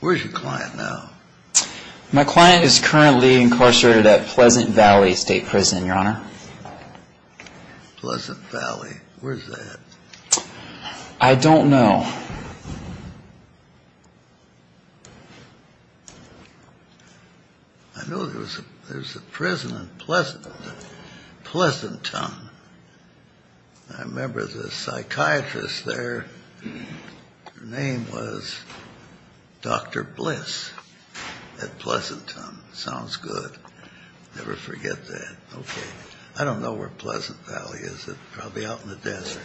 Where's your client now? My client is currently incarcerated at Pleasant Valley State Prison, Your Honor. Pleasant Valley. Where's that? I don't know. I know there's a prison in Pleasant. Pleasanton. I remember the psychiatrist there. Her name was Dr. Bliss at Pleasanton. Sounds good. Never forget that. Okay. I don't know where Pleasant Valley is. It's probably out in the desert.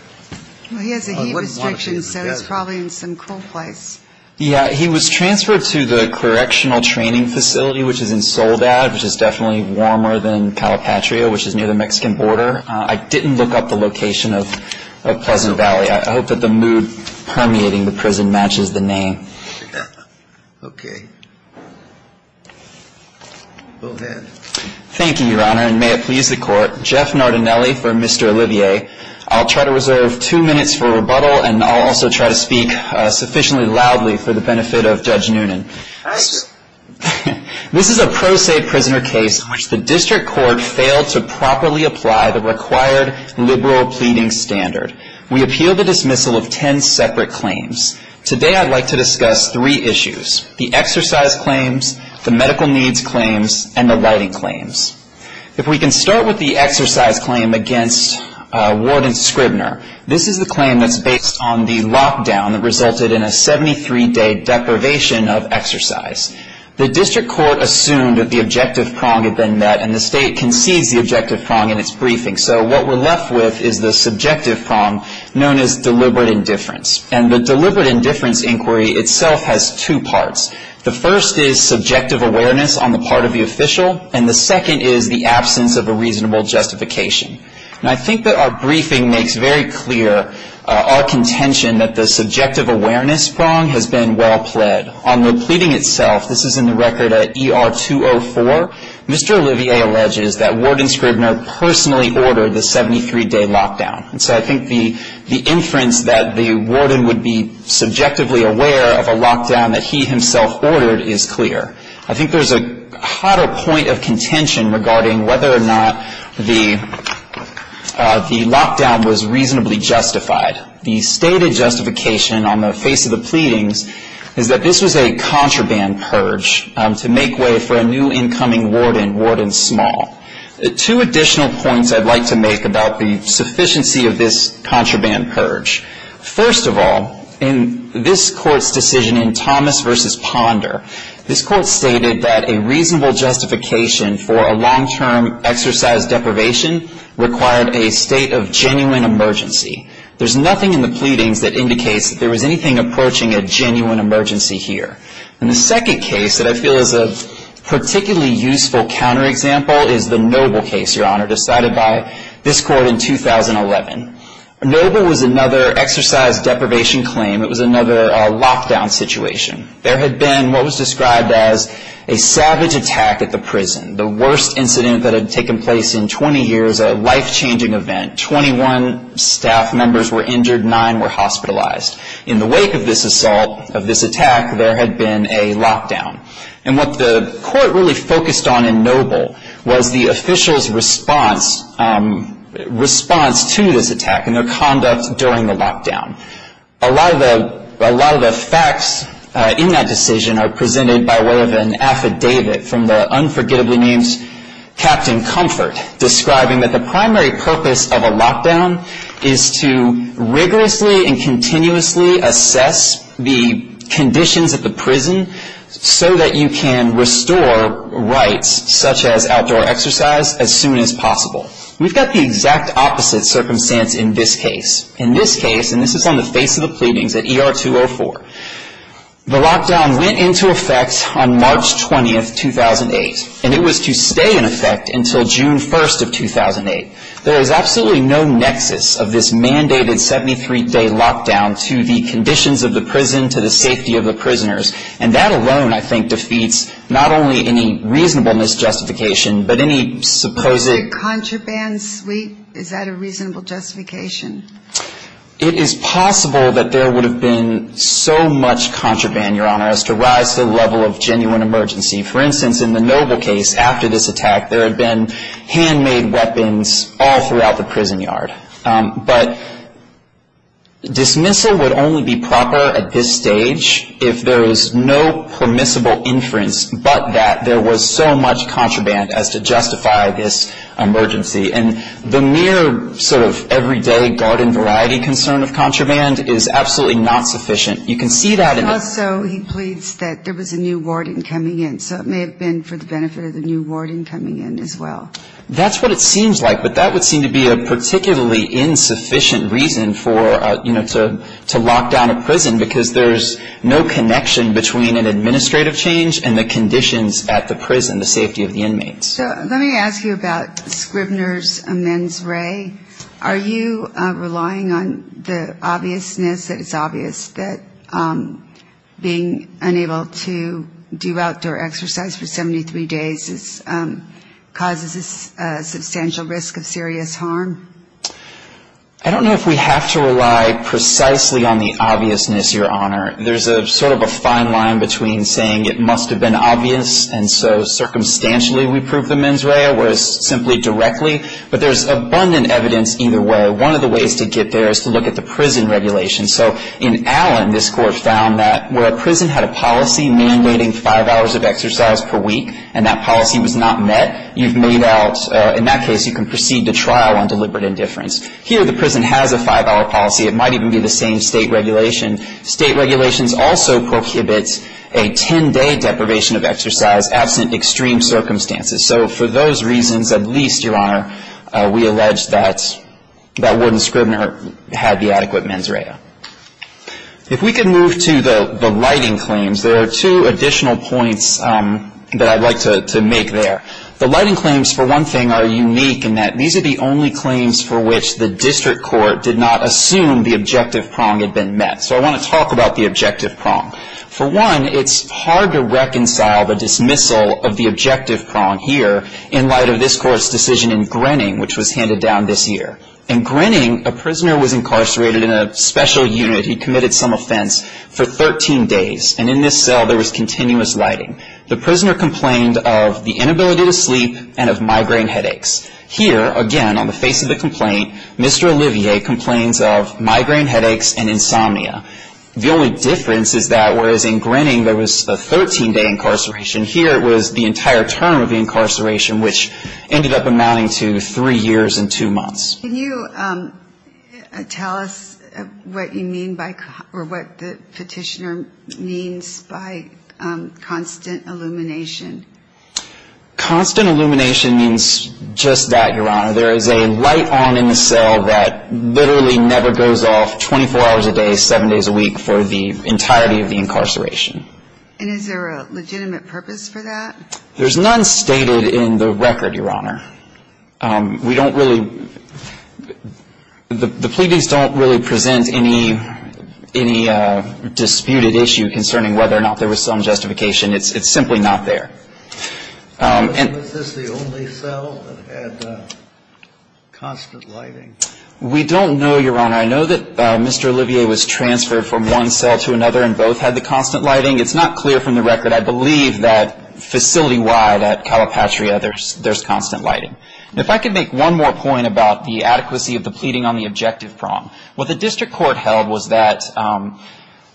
He has a heat restriction, so he's probably in some cool place. Yeah, he was transferred to the correctional training facility, which is in Soldat, which is definitely warmer than Calipatria, which is near the Mexican border. I didn't look up the location of Pleasant Valley. I hope that the mood permeating the prison matches the name. Okay. Go ahead. Thank you, Your Honor, and may it please the Court. Jeff Nardinelli for Mr. Olivier. I'll try to reserve two minutes for rebuttal, and I'll also try to speak sufficiently loudly for the benefit of Judge Noonan. Thank you. This is a pro se prisoner case in which the district court failed to properly apply the required liberal pleading standard. We appeal the dismissal of ten separate claims. Today I'd like to discuss three issues, the exercise claims, the medical needs claims, and the lighting claims. If we can start with the exercise claim against Warden Scribner. This is the claim that's based on the lockdown that resulted in a 73-day deprivation of exercise. The district court assumed that the objective prong had been met, and the state concedes the objective prong in its briefing. So what we're left with is the subjective prong known as deliberate indifference. And the deliberate indifference inquiry itself has two parts. The first is subjective awareness on the part of the official, and the second is the absence of a reasonable justification. And I think that our briefing makes very clear our contention that the subjective awareness prong has been well pled. On the pleading itself, this is in the record at ER 204, Mr. Olivier alleges that Warden Scribner personally ordered the 73-day lockdown. And so I think the inference that the warden would be subjectively aware of a lockdown that he himself ordered is clear. I think there's a hotter point of contention regarding whether or not the lockdown was reasonably justified. The stated justification on the face of the pleadings is that this was a contraband purge to make way for a new incoming warden, Warden Small. Two additional points I'd like to make about the sufficiency of this contraband purge. First of all, in this court's decision in Thomas v. Ponder, this court stated that a reasonable justification for a long-term exercise deprivation required a state of genuine emergency. There's nothing in the pleadings that indicates that there was anything approaching a genuine emergency here. And the second case that I feel is a particularly useful counterexample is the Noble case, Your Honor, decided by this court in 2011. Noble was another exercise deprivation claim. It was another lockdown situation. There had been what was described as a savage attack at the prison, the worst incident that had taken place in 20 years, a life-changing event. Twenty-one staff members were injured, nine were hospitalized. In the wake of this assault, of this attack, there had been a lockdown. And what the court really focused on in Noble was the official's response to this attack and their conduct during the lockdown. A lot of the facts in that decision are presented by way of an affidavit from the unforgettably named Captain Comfort, describing that the primary purpose of a lockdown is to rigorously and continuously assess the conditions at the prison so that you can restore rights, such as outdoor exercise, as soon as possible. We've got the exact opposite circumstance in this case. In this case, and this is on the face of the pleadings at ER 204, the lockdown went into effect on March 20, 2008. And it was to stay in effect until June 1 of 2008. There is absolutely no nexus of this mandated 73-day lockdown to the conditions of the prison, to the safety of the prisoners. And that alone, I think, defeats not only any reasonableness justification, but any supposed ‑‑ A contraband suite, is that a reasonable justification? It is possible that there would have been so much contraband, Your Honor, as to rise to the level of genuine emergency. For instance, in the Noble case, after this attack, there had been handmade weapons all throughout the prison yard. But dismissal would only be proper at this stage if there was no permissible inference but that there was so much contraband as to justify this emergency. And the mere sort of everyday garden variety concern of contraband is absolutely not sufficient. And also he pleads that there was a new warden coming in. So it may have been for the benefit of the new warden coming in as well. That's what it seems like. But that would seem to be a particularly insufficient reason for, you know, to lock down a prison, because there's no connection between an administrative change and the conditions at the prison, the safety of the inmates. So let me ask you about Scribner's men's ray. Are you relying on the obviousness that it's obvious that being unable to do outdoor exercise for 73 days causes a substantial risk of serious harm? I don't know if we have to rely precisely on the obviousness, Your Honor. There's a sort of a fine line between saying it must have been obvious and so circumstantially we prove the men's ray or simply directly. But there's abundant evidence either way. One of the ways to get there is to look at the prison regulation. So in Allen, this Court found that where a prison had a policy mandating five hours of exercise per week and that policy was not met, you've made out, in that case, you can proceed to trial on deliberate indifference. Here the prison has a five-hour policy. It might even be the same State regulation. State regulations also prohibit a 10-day deprivation of exercise absent extreme circumstances. So for those reasons, at least, Your Honor, we allege that Warden Scribner had the adequate men's ray. If we could move to the lighting claims, there are two additional points that I'd like to make there. The lighting claims, for one thing, are unique in that these are the only claims for which the district court did not assume the objective prong had been met. So I want to talk about the objective prong. For one, it's hard to reconcile the dismissal of the objective prong here in light of this Court's decision in Grenning, which was handed down this year. In Grenning, a prisoner was incarcerated in a special unit. He committed some offense for 13 days. And in this cell, there was continuous lighting. The prisoner complained of the inability to sleep and of migraine headaches. Here, again, on the face of the complaint, Mr. Olivier complains of migraine headaches and insomnia. The only difference is that whereas in Grenning there was a 13-day incarceration, here it was the entire term of the incarceration, which ended up amounting to three years and two months. Can you tell us what you mean by or what the petitioner means by constant illumination? Constant illumination means just that, Your Honor. There is a light on in the cell that literally never goes off 24 hours a day, seven days a week, for the entirety of the incarceration. And is there a legitimate purpose for that? There's none stated in the record, Your Honor. We don't really – the pleadings don't really present any disputed issue concerning whether or not there was some justification. It's simply not there. Was this the only cell that had constant lighting? We don't know, Your Honor. I know that Mr. Olivier was transferred from one cell to another and both had the constant lighting. It's not clear from the record. I believe that facility-wide at Calapatria, there's constant lighting. If I could make one more point about the adequacy of the pleading on the objective prong, what the district court held was that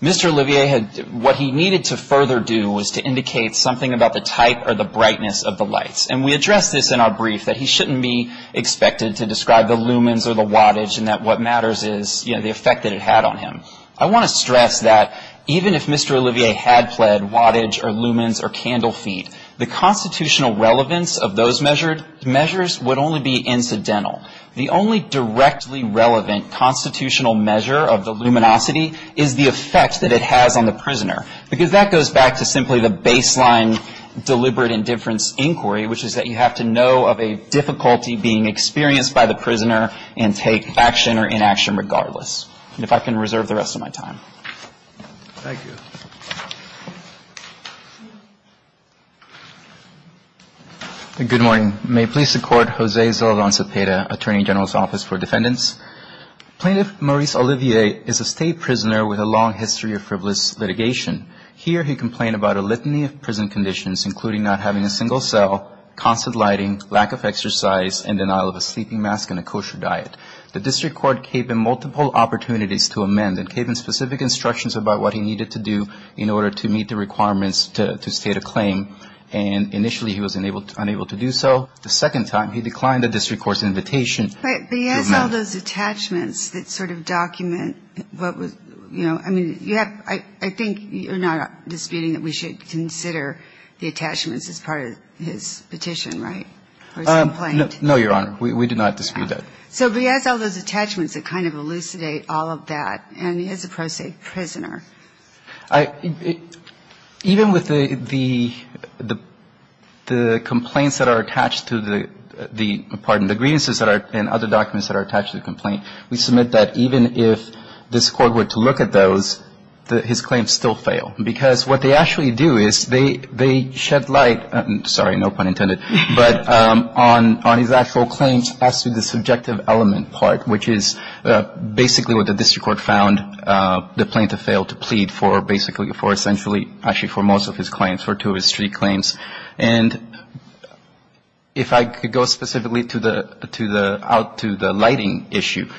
Mr. Olivier had – what he needed to further do was to indicate something about the type or the brightness of the lights. And we addressed this in our brief that he shouldn't be expected to describe the lumens or the wattage and that what matters is, you know, the effect that it had on him. I want to stress that even if Mr. Olivier had pled wattage or lumens or candle feet, the constitutional relevance of those measures would only be incidental. The only directly relevant constitutional measure of the luminosity is the effect that it has on the prisoner, because that goes back to simply the baseline deliberate indifference inquiry, which is that you have to know of a difficulty being experienced by the prisoner and take action or inaction regardless. And if I can reserve the rest of my time. Thank you. Good morning. May it please the Court, Jose Zaldan Zepeda, Attorney General's Office for Defendants. Plaintiff Maurice Olivier is a state prisoner with a long history of frivolous litigation. Here he complained about a litany of prison conditions, including not having a single cell, constant lighting, lack of exercise, and denial of a sleeping mask and a kosher diet. The district court gave him multiple opportunities to amend and gave him specific instructions about what he needed to do in order to meet the requirements to state a claim. And initially he was unable to do so. The second time he declined the district court's invitation. But he has all those attachments that sort of document what was, you know, I mean, you have, I think you're not disputing that we should consider the attachments as part of his petition, right, or his complaint? No, Your Honor. We do not dispute that. So he has all those attachments that kind of elucidate all of that. And he is a pro se prisoner. Even with the complaints that are attached to the, pardon, the grievances and other documents that are attached to the complaint, we submit that even if this court were to look at those, his claims still fail. Because what they actually do is they shed light, sorry, no pun intended, but on his actual claims as to the subjective element part, which is basically what the district court found the plaintiff failed to plead for, basically for essentially, actually for most of his claims, for two of his three claims. And if I could go specifically to the, out to the lighting issue.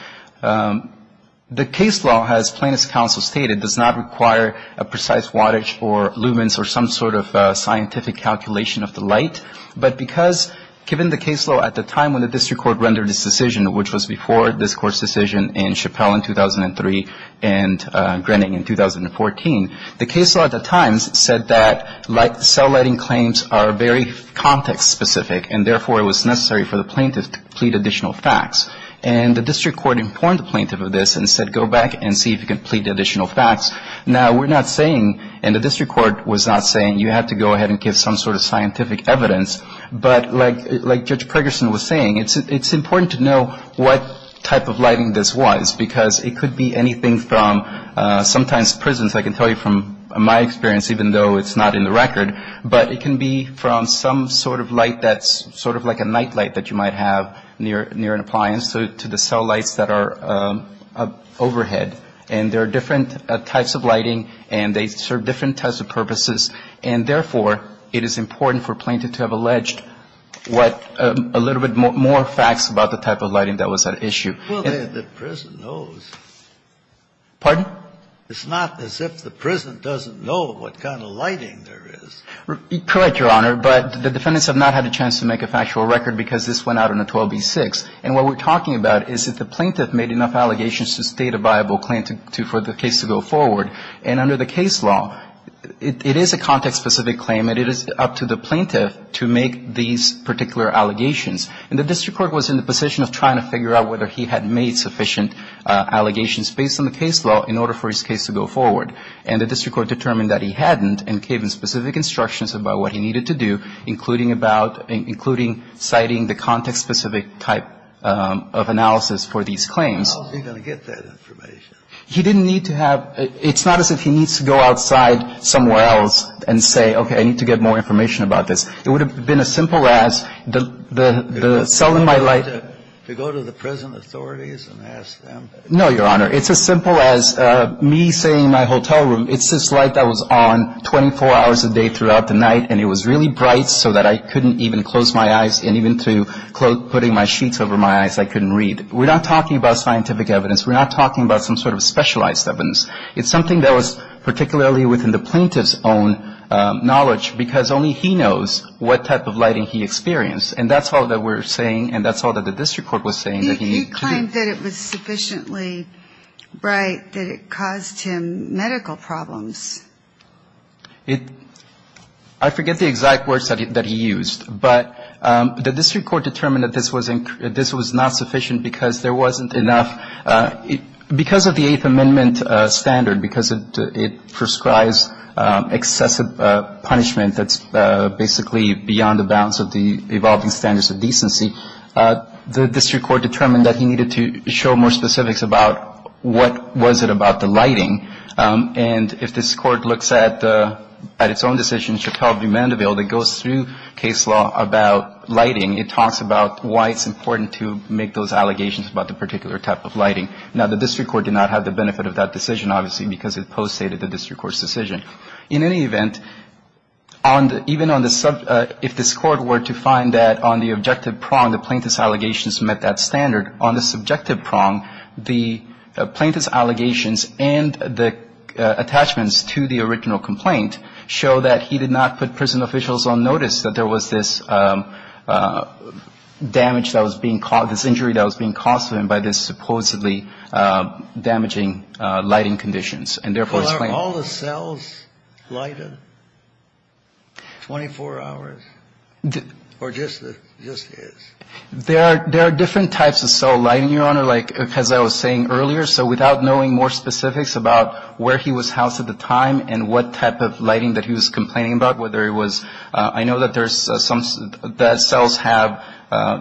The case law, as plaintiff's counsel stated, does not require a precise wattage or lumens or some sort of scientific calculation of the light. But because given the case law at the time when the district court rendered this decision, which was before this court's decision in Chappelle in 2003 and Grenning in 2014, the case law at the time said that cell lighting claims are very context specific, and therefore, it was necessary for the plaintiff to plead additional facts. And the district court informed the plaintiff of this and said go back and see if you can plead additional facts. Now, we're not saying, and the district court was not saying, you have to go ahead and give some sort of scientific evidence. But like Judge Preggerson was saying, it's important to know what type of lighting this was, because it could be anything from sometimes prisons, I can tell you from my experience, even though it's not in the record, but it can be from some sort of light that's sort of like a night light that you might have near an appliance to the cell lights that are overhead. And there are different types of lighting, and they serve different types of purposes, and therefore, it is important for a plaintiff to have alleged what a little bit more facts about the type of lighting that was at issue. Kennedy, the prison knows. Pardon? It's not as if the prison doesn't know what kind of lighting there is. Correct, Your Honor. But the defendants have not had a chance to make a factual record because this went out on a 12b-6, and what we're talking about is that the plaintiff made enough allegations to state a viable claim for the case to go forward. And under the case law, it is a context-specific claim, and it is up to the plaintiff to make these particular allegations. And the district court was in the position of trying to figure out whether he had made sufficient allegations based on the case law in order for his case to go forward. And the district court determined that he hadn't and gave him specific instructions about what he needed to do, including about – including citing the context-specific type of analysis for these claims. How was he going to get that information? He didn't need to have – it's not as if he needs to go outside somewhere else and say, okay, I need to get more information about this. It would have been as simple as the cell in my light – To go to the prison authorities and ask them? No, Your Honor. It's as simple as me saying in my hotel room, it's this light that was on 24 hours a day throughout the night, and it was really bright so that I couldn't even close my eyes, and even through putting my sheets over my eyes, I couldn't read. We're not talking about scientific evidence. We're not talking about some sort of specialized evidence. It's something that was particularly within the plaintiff's own knowledge, because only he knows what type of lighting he experienced. And that's all that we're saying, and that's all that the district court was saying that he needed to do. He claimed that it was sufficiently bright that it caused him medical problems. It – I forget the exact words that he used, but the district court determined that this was not sufficient because there wasn't enough – because of the Eighth Amendment standard, because it prescribes excessive punishment that's basically beyond the bounds of the evolving standards of decency, the district court determined that he needed to show more specifics about what was it about the lighting. And if this court looks at its own decision, Chappelle v. Mandeville, that goes through case law about lighting, it talks about why it's important to make those allegations about the particular type of lighting. Now, the district court did not have the benefit of that decision, obviously, because it post-stated the district court's decision. In any event, on the – even on the – if this court were to find that on the objective prong, the plaintiff's allegations met that standard, on the subjective prong, the plaintiff's allegations and the attachments to the original complaint show that he did not put prison officials on notice that there was this damage that was being – this injury that was being caused to him by this supposedly damaging lighting conditions and, therefore, his claim. Well, are all the cells lighted 24 hours? Or just his? There are – there are different types of cell lighting, Your Honor. Like, as I was saying earlier, so without knowing more specifics about where he was complaining about, whether it was – I know that there's some – that cells have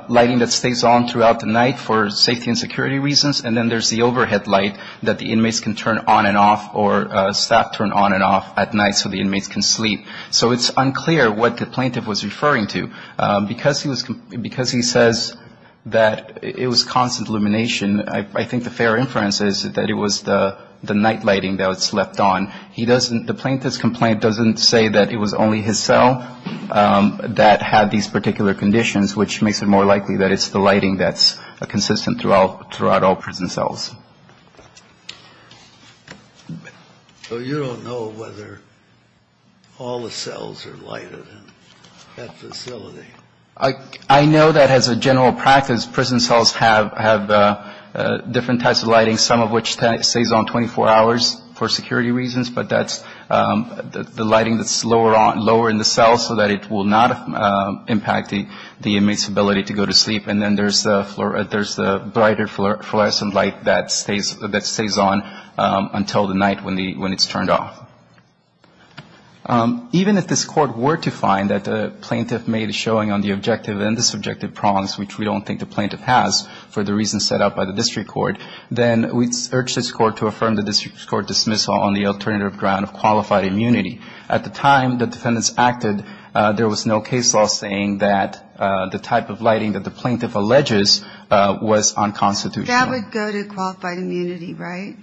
lighting that stays on throughout the night for safety and security reasons, and then there's the overhead light that the inmates can turn on and off or staff turn on and off at night so the inmates can sleep. So it's unclear what the plaintiff was referring to. Because he was – because he says that it was constant illumination, I think the fair inference is that it was the night lighting that was left on. He doesn't – the plaintiff's complaint doesn't say that it was only his cell that had these particular conditions, which makes it more likely that it's the lighting that's consistent throughout all prison cells. So you don't know whether all the cells are lighted in that facility? I know that as a general practice, prison cells have different types of lighting, some of which stays on 24 hours for security reasons, but that's the lighting that's lower in the cells so that it will not impact the inmates' ability to go to sleep. And then there's the brighter fluorescent light that stays on until the night when it's turned off. Even if this Court were to find that the plaintiff made a showing on the objective and the subjective prongs, which we don't think the plaintiff has for the reasons set out by the district court, then we'd urge this Court to affirm the district court dismissal on the alternative ground of qualified immunity. At the time the defendants acted, there was no case law saying that the type of lighting that the plaintiff alleges was unconstitutional. That would go to qualified immunity, right?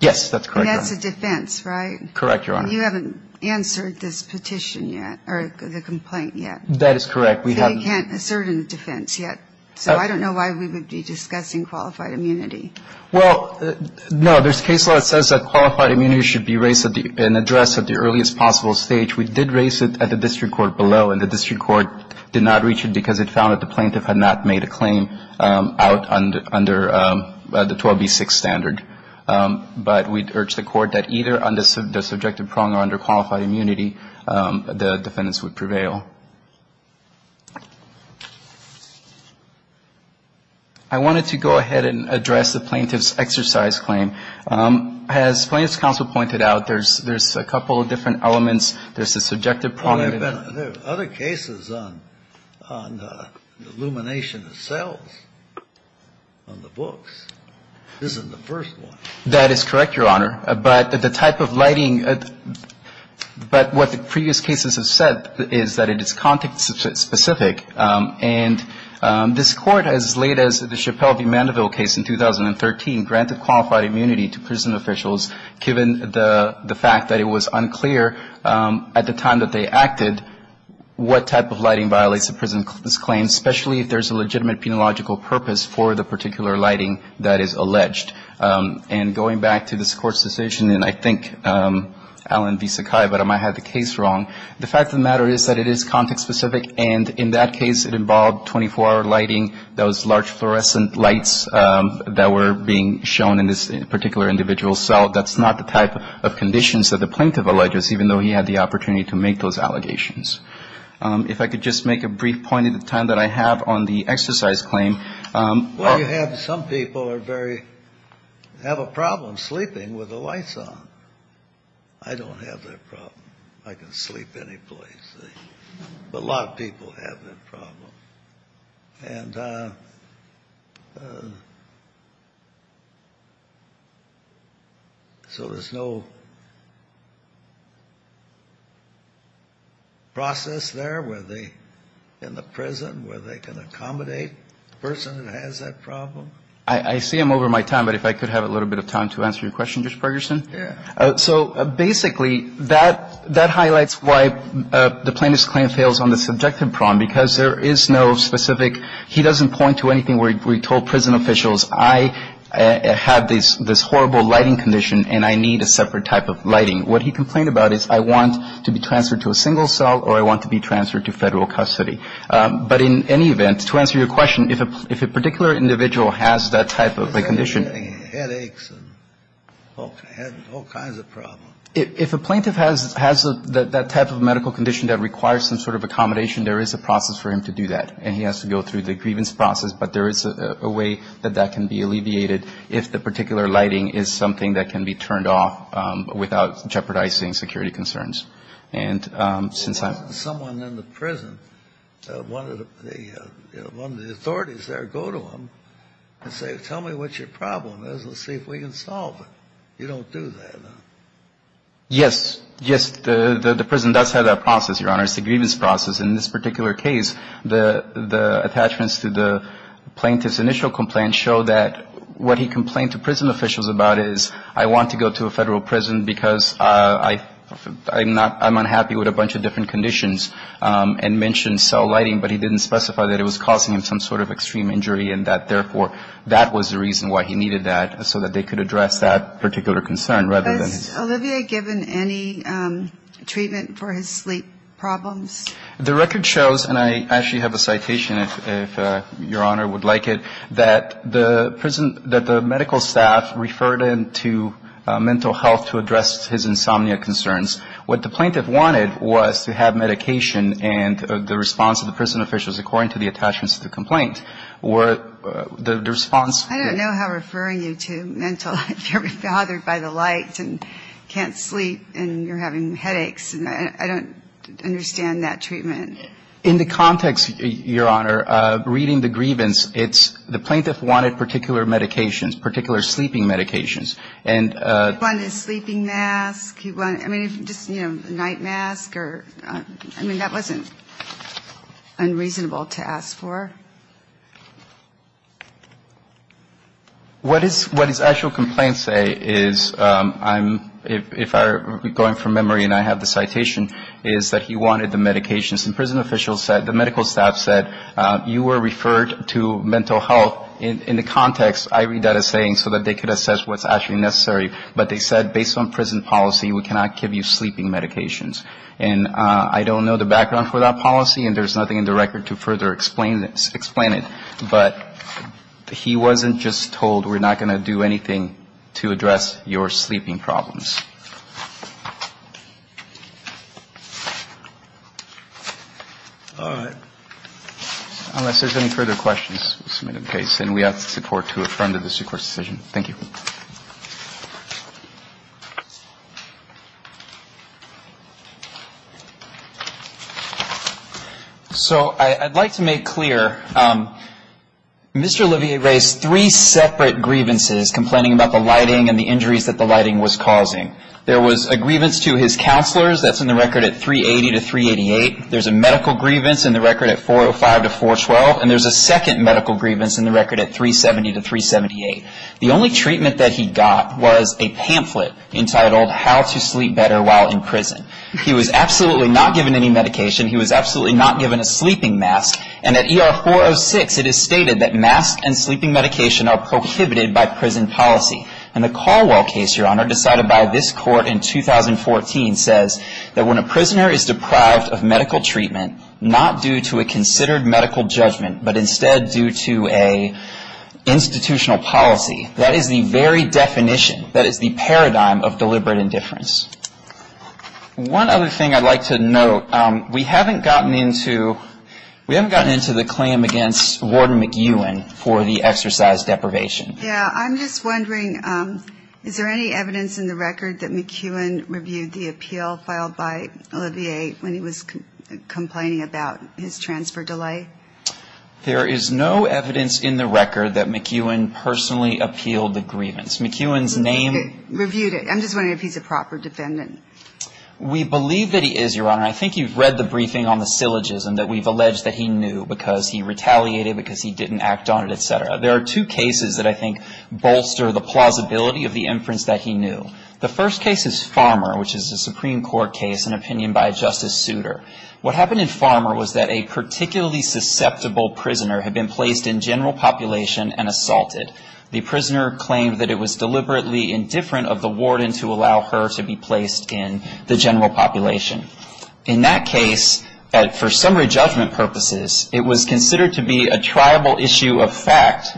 Yes, that's correct, Your Honor. And that's a defense, right? Correct, Your Honor. You haven't answered this petition yet, or the complaint yet. That is correct. We can't assert in defense yet, so I don't know why we would be discussing qualified immunity. Well, no, there's case law that says that qualified immunity should be raised in address at the earliest possible stage. We did raise it at the district court below, and the district court did not reach it because it found that the plaintiff had not made a claim out under the 12B6 standard. But we'd urge the Court that either on the subjective prong or under qualified immunity, the defendants would prevail. I wanted to go ahead and address the plaintiff's exercise claim. As Plaintiff's Counsel pointed out, there's a couple of different elements. There's the subjective prong. There are other cases on the illumination of cells on the books. This isn't the first one. That is correct, Your Honor. But the type of lighting, but what the previous cases have said is that it's not context-specific. And this Court, as late as the Chappelle v. Mandeville case in 2013, granted qualified immunity to prison officials given the fact that it was unclear at the time that they acted what type of lighting violates a prison's claim, especially if there's a legitimate penological purpose for the particular lighting that is alleged. And going back to this Court's decision, and I think, Alan v. Sakai, but I might have the case wrong. The fact of the matter is that it is context-specific, and in that case, it involved 24-hour lighting, those large fluorescent lights that were being shown in this particular individual's cell. That's not the type of conditions that the plaintiff alleges, even though he had the opportunity to make those allegations. If I could just make a brief point at the time that I have on the exercise claim. Well, you have some people are very, have a problem sleeping with the lights on. I don't have that problem. I can sleep any place. But a lot of people have that problem. And so there's no process there where they, in the prison, where they can accommodate the person that has that problem? I see I'm over my time, but if I could have a little bit of time to answer your question, Judge Ferguson. Yeah. So basically, that highlights why the plaintiff's claim fails on the subjective problem, because there is no specific, he doesn't point to anything where he told prison officials, I have this horrible lighting condition and I need a separate type of lighting. What he complained about is I want to be transferred to a single cell or I want to be transferred to Federal custody. But in any event, to answer your question, if a particular individual has that type of a condition. Headaches and all kinds of problems. If a plaintiff has that type of medical condition that requires some sort of accommodation, there is a process for him to do that. And he has to go through the grievance process. But there is a way that that can be alleviated if the particular lighting is something that can be turned off without jeopardizing security concerns. And since I'm. Yes. Yes. The prison does have that process, Your Honor. It's a grievance process. In this particular case, the attachments to the plaintiff's initial complaint show that what he complained to prison officials about is I want to go to a Federal prison because I'm not, I'm unhappy with a bunch of different conditions. conditions. And mentioned cell lighting, but he didn't specify that it was causing him some sort of extreme injury and that, therefore, that was the reason why he needed that, so that they could address that particular concern rather than his. Has Olivier given any treatment for his sleep problems? The record shows, and I actually have a citation if Your Honor would like it, that the prison, that the medical staff referred him to mental health to address his insomnia concerns. What the plaintiff wanted was to have medication and the response of the prison officials, according to the attachments to the complaint, were the response. I don't know how referring you to mental health. You're bothered by the lights and can't sleep and you're having headaches. And I don't understand that treatment. In the context, Your Honor, of reading the grievance, it's the plaintiff wanted particular medications, particular sleeping medications. He wanted a sleeping mask. He wanted, I mean, just, you know, a night mask or, I mean, that wasn't unreasonable to ask for. What his actual complaint say is, if I'm going from memory and I have the citation, is that he wanted the medications. And prison officials said, the medical staff said, you were referred to mental health in the context, I read that as saying so that they could assess what's actually necessary. But they said, based on prison policy, we cannot give you sleeping medications. And I don't know the background for that policy and there's nothing in the record to further explain it. But he wasn't just told, we're not going to do anything to address your sleeping problems. All right. Unless there's any further questions, we'll submit the case. And we ask the Supreme Court to affirm the Supreme Court's decision. Thank you. So I'd like to make clear, Mr. Olivier raised three separate grievances complaining about the lighting and the injuries that the lighting was causing. There was a grievance to his counselors, that's in the record at 380 to 388. There's a medical grievance in the record at 405 to 412. And there's a second medical grievance in the record at 370 to 378. The only treatment that he got was a pamphlet entitled, How to Sleep Better While in Prison. He was absolutely not given any medication. He was absolutely not given a sleeping mask. And at ER 406, it is stated that mask and sleeping medication are prohibited by prison policy. And the Caldwell case, Your Honor, decided by this court in 2014, says that when a prisoner is deprived of medical treatment, not due to a considered medical judgment, but instead due to an institutional policy. That is the very definition. That is the paradigm of deliberate indifference. One other thing I'd like to note, we haven't gotten into the claim against Warden McEwen for the exercise deprivation. Yeah, I'm just wondering, is there any evidence in the record that McEwen reviewed the appeal filed by Olivier when he was complaining about his transfer delay? There is no evidence in the record that McEwen personally appealed the grievance. McEwen's name? Reviewed it. I'm just wondering if he's a proper defendant. We believe that he is, Your Honor. I think you've read the briefing on the syllogism that we've alleged that he knew because he retaliated because he didn't act on it, et cetera. There are two cases that I think bolster the plausibility of the inference that he knew. The first case is Farmer, which is a Supreme Court case, an opinion by a justice suitor. What happened in Farmer was that a particularly susceptible prisoner had been placed in general population and assaulted. The prisoner claimed that it was deliberately indifferent of the warden to allow her to be placed in the general population. In that case, for summary judgment purposes, it was considered to be a triable issue of fact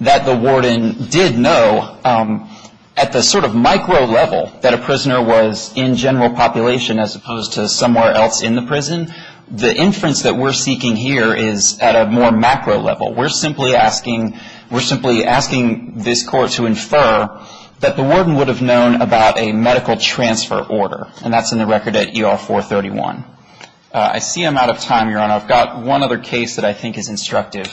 that the warden did know. At the sort of micro level that a prisoner was in general population as opposed to somewhere else in the prison, the inference that we're seeking here is at a more macro level. We're simply asking this Court to infer that the warden would have known about a medical transfer order, and that's in the record at ER-431. I see I'm out of time, Your Honor. I've got one other case that I think is instructive,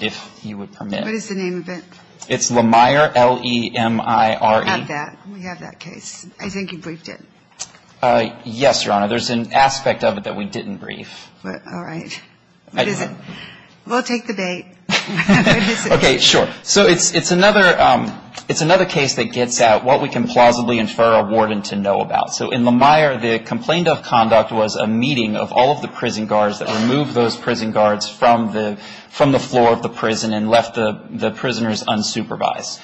if you would permit. What is the name of it? It's Lemire, L-E-M-I-R-E. We have that. We have that case. I think you briefed it. Yes, Your Honor. There's an aspect of it that we didn't brief. All right. What is it? We'll take the bait. Okay. Sure. So it's another case that gets at what we can plausibly infer a warden to know about. So in Lemire, the complaint of conduct was a meeting of all of the prison guards that removed those prison guards from the floor of the prison and left the prisoners unsupervised.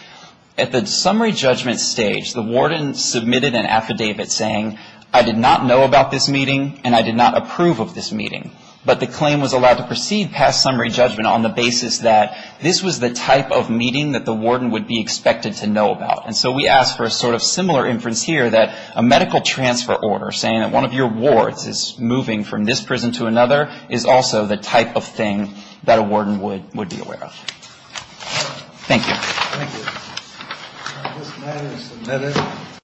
At the summary judgment stage, the warden submitted an affidavit saying, I did not know about this meeting, and I did not approve of this meeting. But the claim was allowed to proceed past summary judgment on the basis that this was the type of meeting that the warden would be expected to know about. And so we ask for a sort of similar inference here, that a medical transfer order, saying that one of your wards is moving from this prison to another, is also the type of thing that a warden would be aware of. Thank you. Thank you. This matter is submitted.